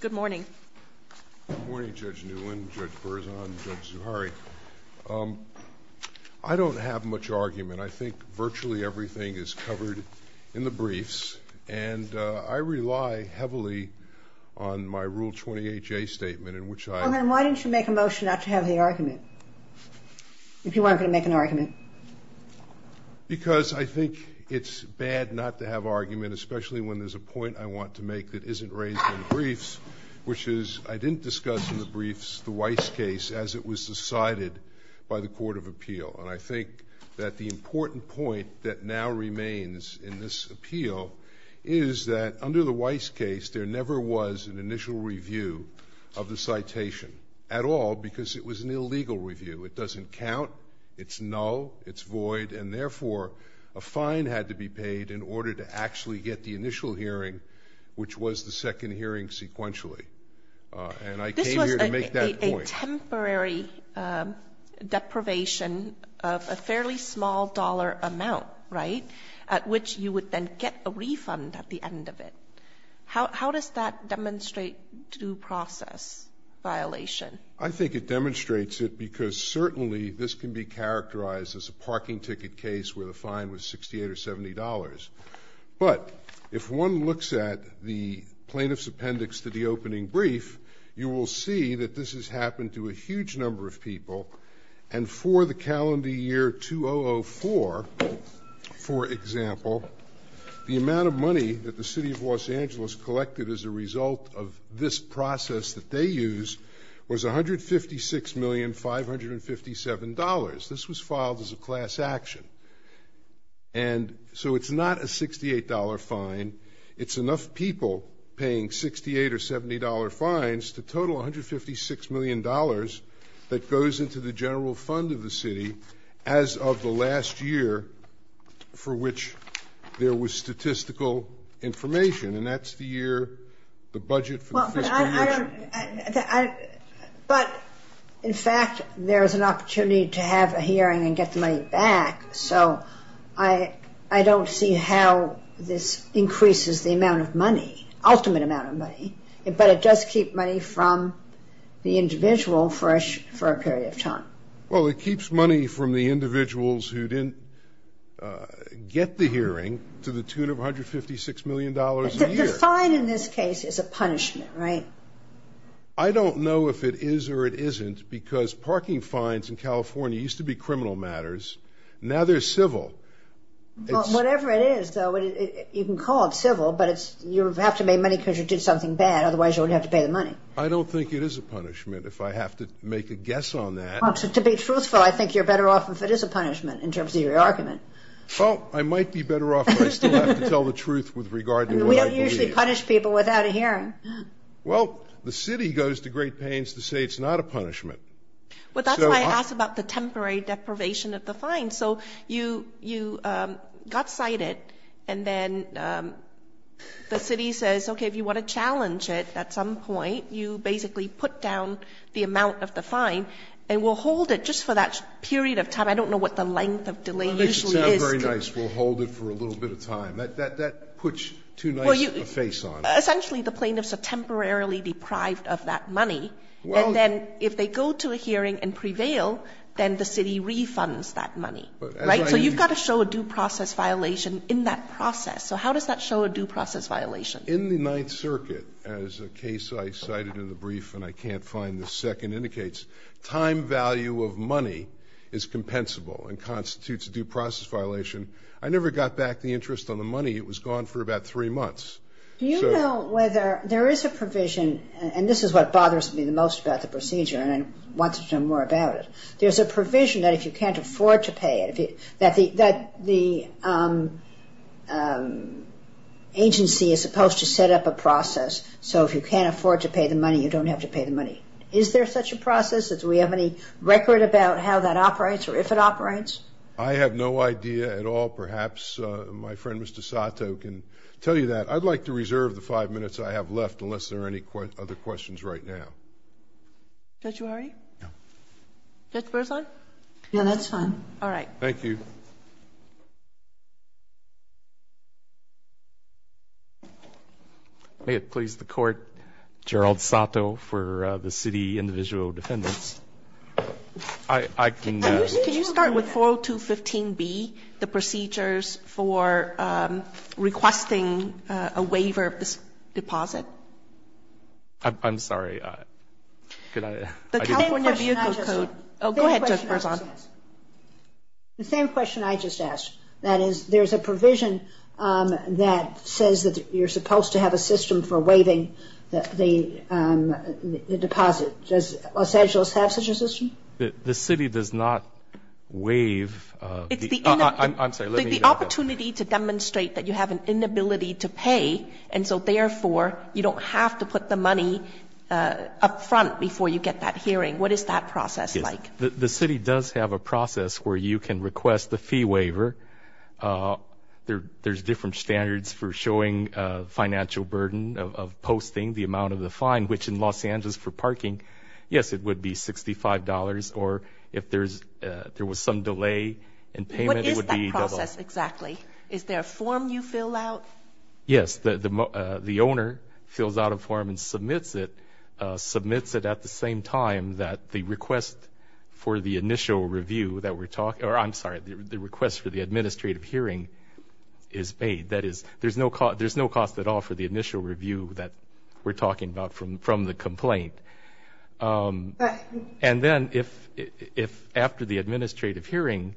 Good morning. Good morning, Judge Newlin, Judge Berzon, Judge Zuhairi. I don't have much argument. I think virtually everything is covered in the briefs, and I rely heavily on my Rule 28J statement in which I— Well, then why didn't you make a motion not to have the argument, if you weren't going to make an argument? Because I think it's bad not to have argument, especially when there's a point I want to make that isn't raised in the briefs, which is I didn't discuss in the briefs the Weiss case as it was decided by the Court of Appeal. And I think that the important point that now remains in this appeal is that under the Weiss case, there never was an initial review of the citation at all because it was an illegal review. It doesn't count. It's null. It's void. And therefore, a fine had to be paid in order to actually get the initial hearing, which was the second hearing sequentially. And I came here to make that point. This was a temporary deprivation of a fairly small dollar amount, right, at which you would then get a refund at the end of it. How does that demonstrate due process violation? I think it demonstrates it because certainly this can be characterized as a parking ticket case where the fine was $68 or $70. But if one looks at the plaintiff's appendix to the opening brief, you will see that this has happened to a huge number of people. And for the calendar year 2004, for example, the amount of money that the City of Los Angeles collected as a result of this process that they used was $156,557. This was filed as a class action. And so it's not a $68 fine. It's enough people paying $68 or $70 fines to total $156 million that goes into the general fund of the city as of the last year for which there was statistical information. And that's the year, the budget for the fiscal year. But in fact, there is an opportunity to have a hearing and get the money back. So I don't see how this increases the amount of money, ultimate amount of money. But it does keep money from the individual for a period of time. Well, it keeps money from the individuals who didn't get the hearing to the tune of $156 million a year. The fine in this case is a punishment, right? I don't know if it is or it isn't because parking fines in California used to be criminal matters. Now they're civil. Whatever it is, though, you can call it civil, but you have to pay money because you did something bad. Otherwise, you would have to pay the money. I don't think it is a punishment if I have to make a guess on that. To be truthful, I think you're better off if it is a punishment in terms of your argument. Well, I might be better off if I still have to tell the truth with regard to what I believe. You don't usually punish people without a hearing. Well, the city goes to great pains to say it's not a punishment. Well, that's why I asked about the temporary deprivation of the fine. So you got cited, and then the city says, okay, if you want to challenge it at some point, you basically put down the amount of the fine, and we'll hold it just for that period of time. I don't know what the length of delay usually is. That makes it sound very nice, we'll hold it for a little bit of time. That puts too nice a face on it. Essentially, the plaintiffs are temporarily deprived of that money, and then if they go to a hearing and prevail, then the city refunds that money, right? So you've got to show a due process violation in that process. So how does that show a due process violation? In the Ninth Circuit, as a case I cited in the brief and I can't find the second, indicates time value of money is compensable and constitutes a due process violation. I never got back the interest on the money. It was gone for about three months. Do you know whether there is a provision, and this is what bothers me the most about the procedure, and I want to know more about it. There's a provision that if you can't afford to pay it, that the agency is supposed to set up a process, so if you can't afford to pay the money, you don't have to pay the money. Is there such a process? Do we have any record about how that operates or if it operates? I have no idea at all. Perhaps my friend, Mr. Sato, can tell you that. I'd like to reserve the five minutes I have left unless there are any other questions right now. Judge Wahre? No. Judge Breslin? No, that's fine. All right. Thank you. May it please the Court, Gerald Sato for the city individual defendants. Can you start with 4215B, the procedures for requesting a waiver of this deposit? I'm sorry. The California Vehicle Code. Go ahead, Judge Breslin. The same question I just asked. That is, there's a provision that says that you're supposed to have a system for waiving the deposit. Does Los Angeles have such a system? The city does not waive. I'm sorry. The opportunity to demonstrate that you have an inability to pay, and so therefore you don't have to put the money up front before you get that hearing. What is that process like? The city does have a process where you can request the fee waiver. There's different standards for showing financial burden of posting the amount of the fine, which in Los Angeles for parking, yes, it would be $65, or if there was some delay in payment, it would be double. What is that process exactly? Is there a form you fill out? Yes. The owner fills out a form and submits it, submits it at the same time that the request for the initial review that we're talking about, or I'm sorry, the request for the administrative hearing is paid. That is, there's no cost at all for the initial review that we're talking about from the complaint. And then if after the administrative hearing,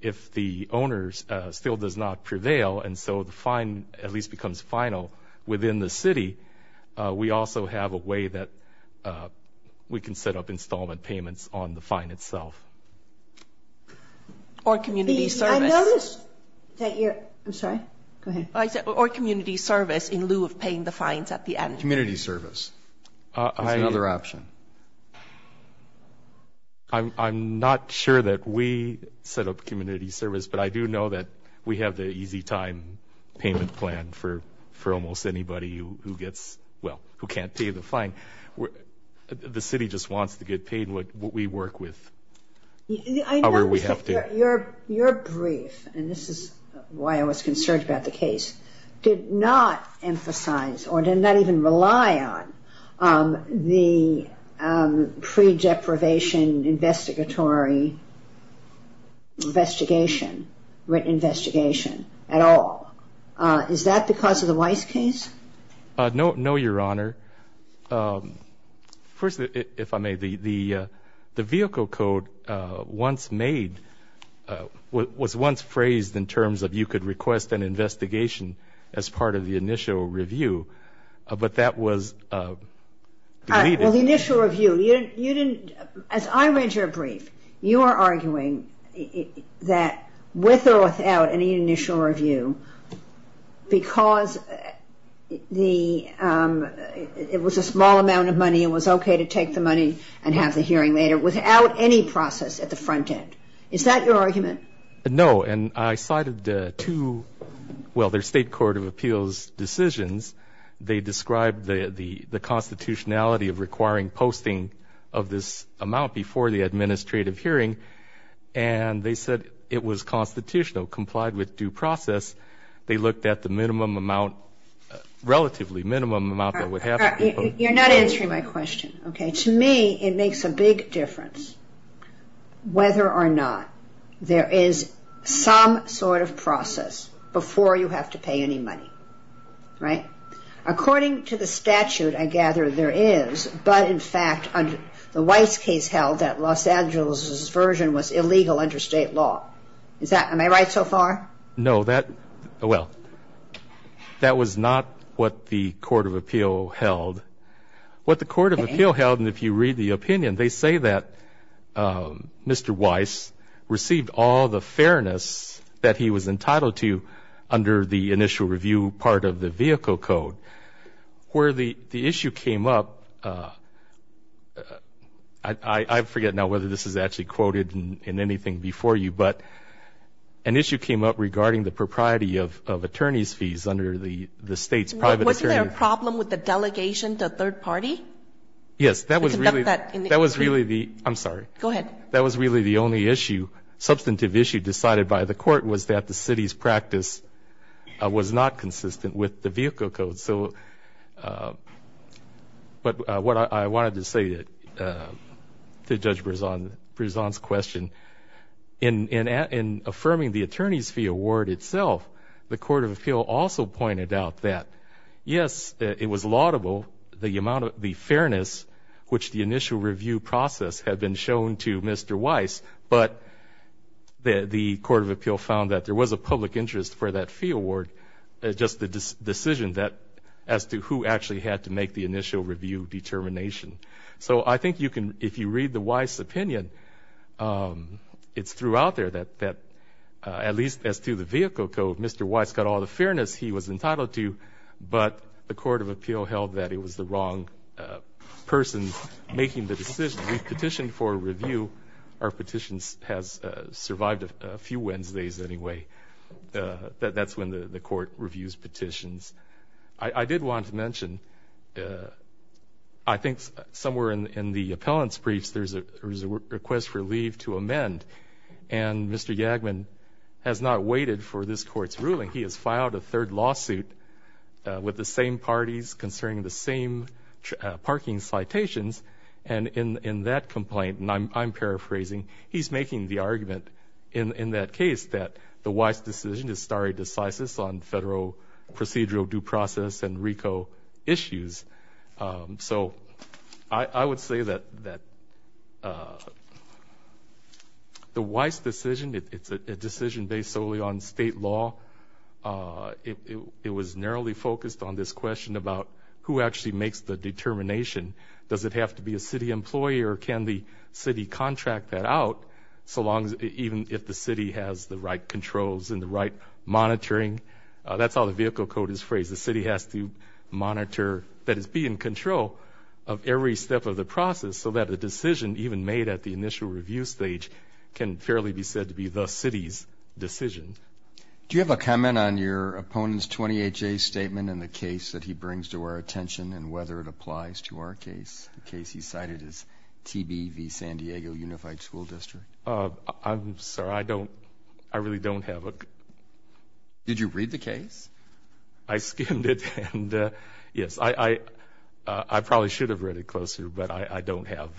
if the owners still does not prevail and so the fine at least becomes final within the city, we also have a way that we can set up installment payments on the fine itself. Or community service. I'm sorry. Go ahead. Or community service in lieu of paying the fines at the end. Community service is another option. I'm not sure that we set up community service, but I do know that we have the easy time payment plan for almost anybody who gets, well, who can't pay the fine. The city just wants to get paid what we work with, however we have to. Your brief, and this is why I was concerned about the case, did not emphasize or did not even rely on the pre-deprivation investigatory investigation, written investigation at all. Is that because of the Weiss case? No, Your Honor. First, if I may, the vehicle code once made, was once phrased in terms of you could request an investigation as part of the initial review. But that was deleted. Well, the initial review. You didn't, as I read your brief, you are arguing that with or without any initial review, because it was a small amount of money, it was okay to take the money and have the hearing later, without any process at the front end. Is that your argument? No. And I cited two, well, their state court of appeals decisions. They described the constitutionality of requiring posting of this amount before the administrative hearing, and they said it was constitutional, complied with due process. They looked at the minimum amount, relatively minimum amount that would have to be posted. You're not answering my question, okay? To me, it makes a big difference whether or not there is some sort of process before you have to pay any money. Right? According to the statute, I gather there is. But, in fact, the Weiss case held that Los Angeles' version was illegal under state law. Am I right so far? No. Well, that was not what the court of appeal held. What the court of appeal held, and if you read the opinion, they say that Mr. Weiss received all the fairness that he was entitled to under the initial review part of the vehicle code. Where the issue came up, I forget now whether this is actually quoted in anything before you, but an issue came up regarding the propriety of attorney's fees under the state's private attorney. Wasn't there a problem with the delegation to third party? Yes. That was really the only issue, substantive issue decided by the court was that the city's practice was not consistent with the vehicle code. But what I wanted to say to Judge Brisson's question, in affirming the attorney's fee award itself, the court of appeal also pointed out that, yes, it was laudable, the amount of fairness, which the initial review process had been shown to Mr. Weiss, but the court of appeal found that there was a public interest for that fee award, just the decision as to who actually had to make the initial review determination. So I think if you read the Weiss opinion, it's throughout there that, at least as to the vehicle code, Mr. Weiss got all the fairness he was entitled to, but the court of appeal held that it was the wrong person making the decision. We petitioned for a review. Our petition has survived a few Wednesdays anyway. That's when the court reviews petitions. I did want to mention, I think somewhere in the appellant's briefs there's a request for leave to amend, and Mr. Yagman has not waited for this court's ruling. He has filed a third lawsuit with the same parties concerning the same parking citations, and in that complaint, and I'm paraphrasing, he's making the argument in that case that the Weiss decision is stare decisis on federal procedural due process and RICO issues. So I would say that the Weiss decision, it's a decision based solely on state law. It was narrowly focused on this question about who actually makes the determination. Does it have to be a city employee, or can the city contract that out, even if the city has the right controls and the right monitoring? That's how the vehicle code is phrased. The city has to monitor, that is, be in control of every step of the process, so that a decision even made at the initial review stage can fairly be said to be the city's decision. Do you have a comment on your opponent's 20HA statement and the case that he brings to our attention and whether it applies to our case, the case he cited as TB v. San Diego Unified School District? I'm sorry. I don't – I really don't have a – Did you read the case? I skimmed it, and yes, I probably should have read it closer, but I don't have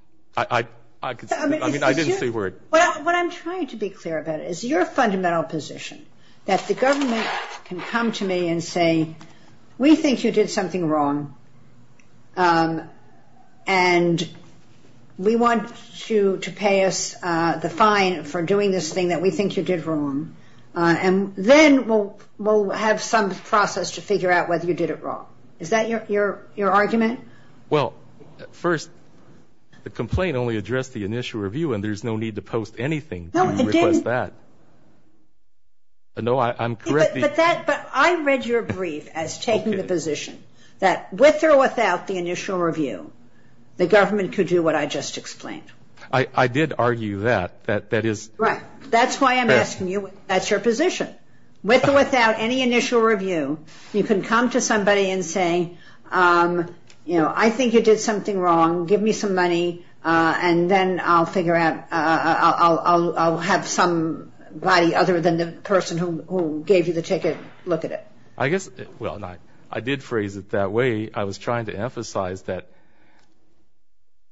– I didn't see where it – What I'm trying to be clear about is your fundamental position, that the government can come to me and say, we think you did something wrong and we want you to pay us the fine for doing this thing that we think you did wrong, and then we'll have some process to figure out whether you did it wrong. Is that your argument? Well, first, the complaint only addressed the initial review, and there's no need to post anything to request that. No, it didn't – No, I'm correcting – But that – but I read your brief as taking the position that with or without the initial review, the government could do what I just explained. I did argue that. That is – Right. That's why I'm asking you – that's your position. With or without any initial review, you can come to somebody and say, you know, I think you did something wrong, give me some money, and then I'll figure out – I'll have somebody other than the person who gave you the ticket look at it. I guess – well, I did phrase it that way. I was trying to emphasize that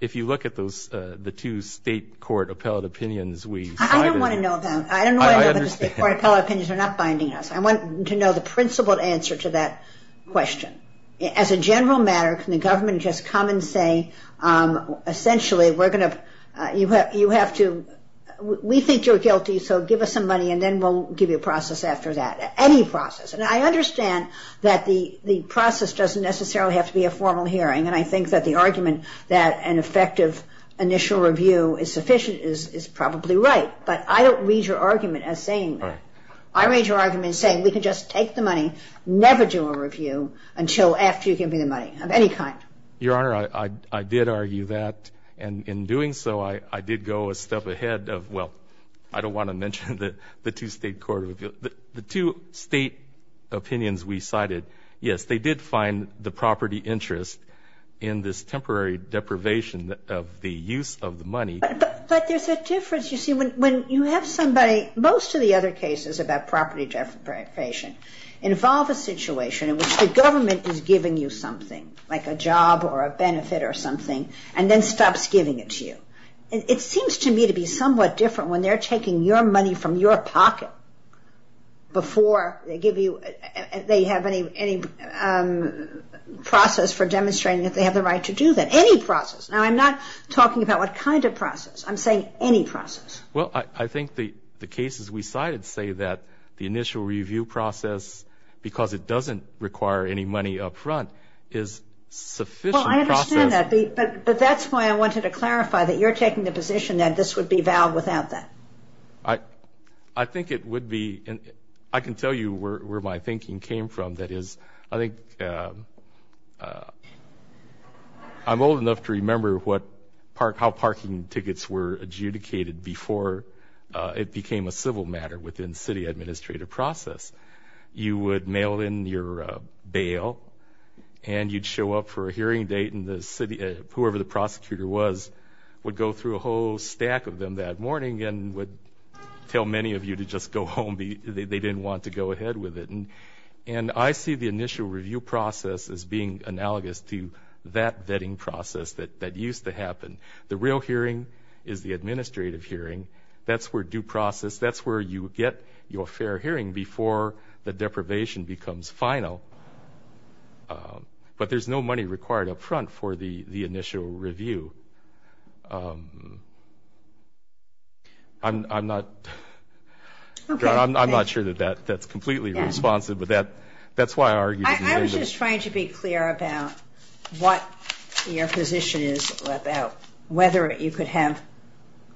if you look at those – the two state court appellate opinions we cited – I don't want to know them. I understand. State court appellate opinions are not binding us. I want to know the principled answer to that question. As a general matter, can the government just come and say, essentially, we're going to – you have to – we think you're guilty, so give us some money, and then we'll give you a process after that, any process. And I understand that the process doesn't necessarily have to be a formal hearing, and I think that the argument that an effective initial review is sufficient is probably right. But I don't read your argument as saying that. I read your argument as saying we can just take the money, never do a review until after you give me the money of any kind. Your Honor, I did argue that. And in doing so, I did go a step ahead of – well, I don't want to mention the two state court – the two state opinions we cited, yes, they did find the property interest in this temporary deprivation of the use of the money. But there's a difference. You see, when you have somebody – most of the other cases about property deprivation involve a situation in which the government is giving you something, like a job or a benefit or something, and then stops giving it to you. It seems to me to be somewhat different when they're taking your money from your pocket before they give you – they have any process for demonstrating that they have the right to do that. Any process. Now, I'm not talking about what kind of process. I'm saying any process. Well, I think the cases we cited say that the initial review process, because it doesn't require any money up front, is sufficient process. Well, I understand that. But that's why I wanted to clarify that you're taking the position that this would be valid without that. I think it would be. I can tell you where my thinking came from. That is, I think I'm old enough to remember how parking tickets were adjudicated before it became a civil matter within city administrative process. You would mail in your bail, and you'd show up for a hearing date, and whoever the prosecutor was would go through a whole stack of them that morning and would tell many of you to just go home. They didn't want to go ahead with it. And I see the initial review process as being analogous to that vetting process that used to happen. The real hearing is the administrative hearing. That's where due process, that's where you get your fair hearing before the deprivation becomes final. But there's no money required up front for the initial review. I'm not sure that that's completely responsive, but that's why I argued. I was just trying to be clear about what your position is about whether you could have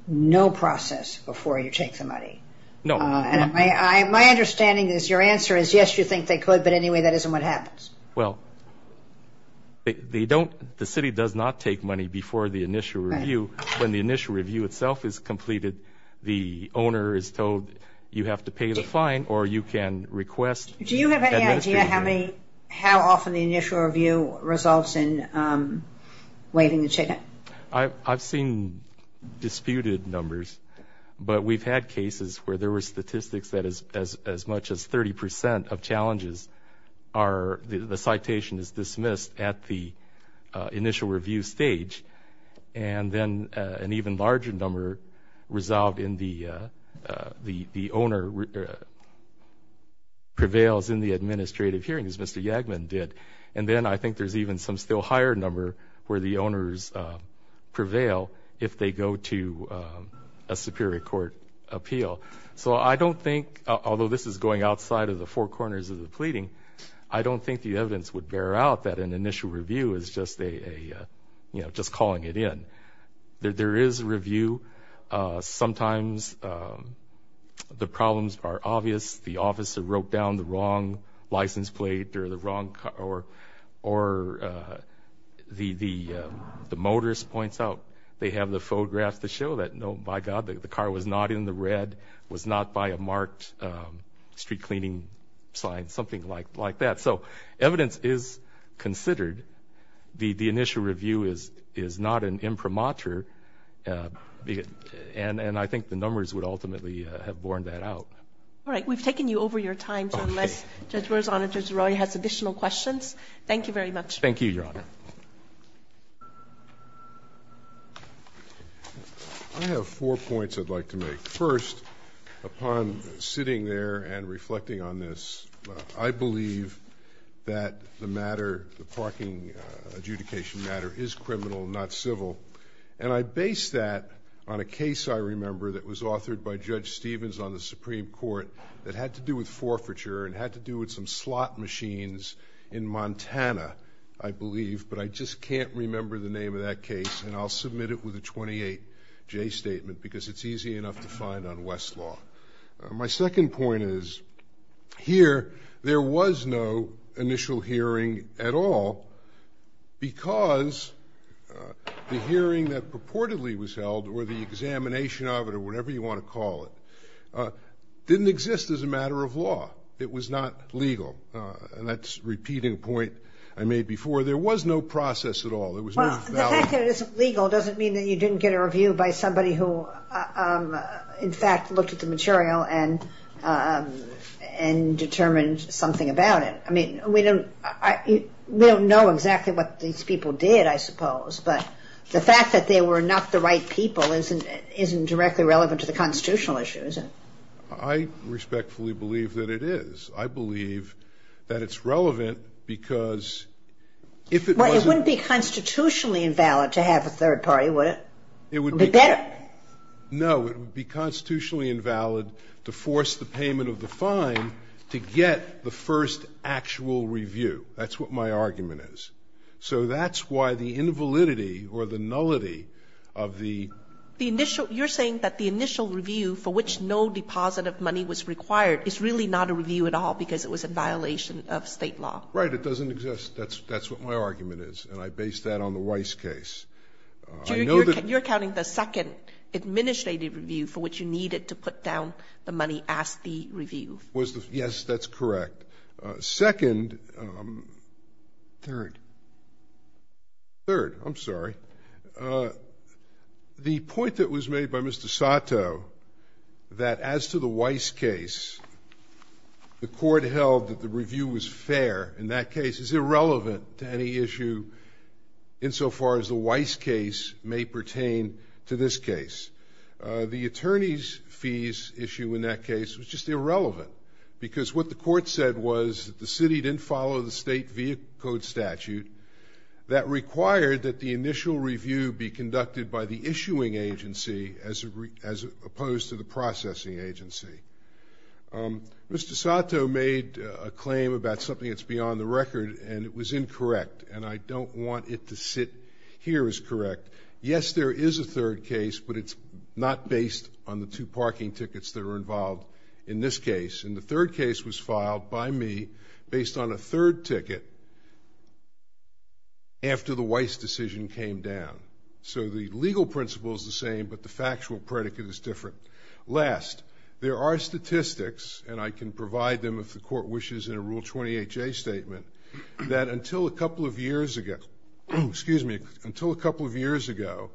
no process before you take the money. No. My understanding is your answer is, yes, you think they could, but anyway, that isn't what happens. Well, the city does not take money before the initial review. When the initial review itself is completed, the owner is told you have to pay the fine or you can request administration. Do you have any idea how often the initial review results in waiving the ticket? I've seen disputed numbers, but we've had cases where there were statistics that as much as 30 percent of challenges are the citation is dismissed at the initial review stage, and then an even larger number resolved in the owner prevails in the administrative hearing, as Mr. Yagman did. And then I think there's even some still higher number where the owners prevail if they go to a superior court appeal. So I don't think, although this is going outside of the four corners of the pleading, I don't think the evidence would bear out that an initial review is just calling it in. There is a review. Sometimes the problems are obvious. The officer wrote down the wrong license plate or the motorist points out. They have the photographs to show that, no, by God, the car was not in the red, was not by a marked street cleaning sign, something like that. So evidence is considered. The initial review is not an imprimatur. And I think the numbers would ultimately have borne that out. All right. We've taken you over your time. Okay. So unless Judge Roy has additional questions, thank you very much. Thank you, Your Honor. I have four points I'd like to make. First, upon sitting there and reflecting on this, I believe that the matter, the parking adjudication matter, is criminal, not civil. And I base that on a case, I remember, that was authored by Judge Stevens on the Supreme Court that had to do with forfeiture and had to do with some slot machines in Montana, I believe. But I just can't remember the name of that case, and I'll submit it with a 28-J statement because it's easy enough to find on Westlaw. My second point is here there was no initial hearing at all because the hearing that purportedly was held or the examination of it or whatever you want to call it didn't exist as a matter of law. It was not legal. And that's a repeating point I made before. There was no process at all. There was no value. Well, the fact that it isn't legal doesn't mean that you didn't get a review by somebody who, in fact, looked at the material and determined something about it. I mean, we don't know exactly what these people did, I suppose, but the fact that they were not the right people isn't directly relevant to the constitutional issue, is it? I respectfully believe that it is. I believe that it's relevant because if it wasn't ---- Well, it wouldn't be constitutionally invalid to have a third party, would it? It would be better. No. It would be constitutionally invalid to force the payment of the fine to get the first actual review. That's what my argument is. So that's why the invalidity or the nullity of the ---- You're saying that the initial review for which no deposit of money was required is really not a review at all because it was in violation of State law. Right. It doesn't exist. That's what my argument is, and I base that on the Weiss case. I know that ---- You're counting the second administrative review for which you needed to put down the money as the review. Yes, that's correct. Second ---- Third. Third. I'm sorry. The point that was made by Mr. Sato that as to the Weiss case, the court held that the review was fair. In that case, it's irrelevant to any issue insofar as the Weiss case may pertain to this case. The attorney's fees issue in that case was just irrelevant because what the court said was that the city didn't follow the state vehicle code statute that required that the initial review be conducted by the issuing agency as opposed to the processing agency. Mr. Sato made a claim about something that's beyond the record, and it was incorrect, and I don't want it to sit here as correct. Yes, there is a third case, but it's not based on the two parking tickets that are involved in this case. And the third case was filed by me based on a third ticket after the Weiss decision came down. So the legal principle is the same, but the factual predicate is different. Last, there are statistics, and I can provide them if the court wishes in a Rule 28J statement, that until a couple of years ago, excuse me, until a couple of years ago,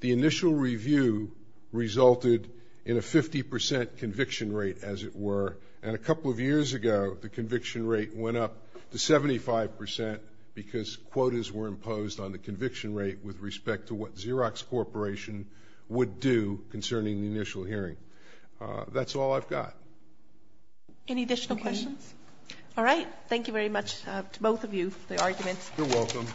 the initial review resulted in a 50% conviction rate, as it were. And a couple of years ago, the conviction rate went up to 75% because quotas were imposed on the conviction rate with respect to what Xerox Corporation would do concerning the initial hearing. That's all I've got. Any additional questions? All right, thank you very much to both of you for the arguments. You're welcome.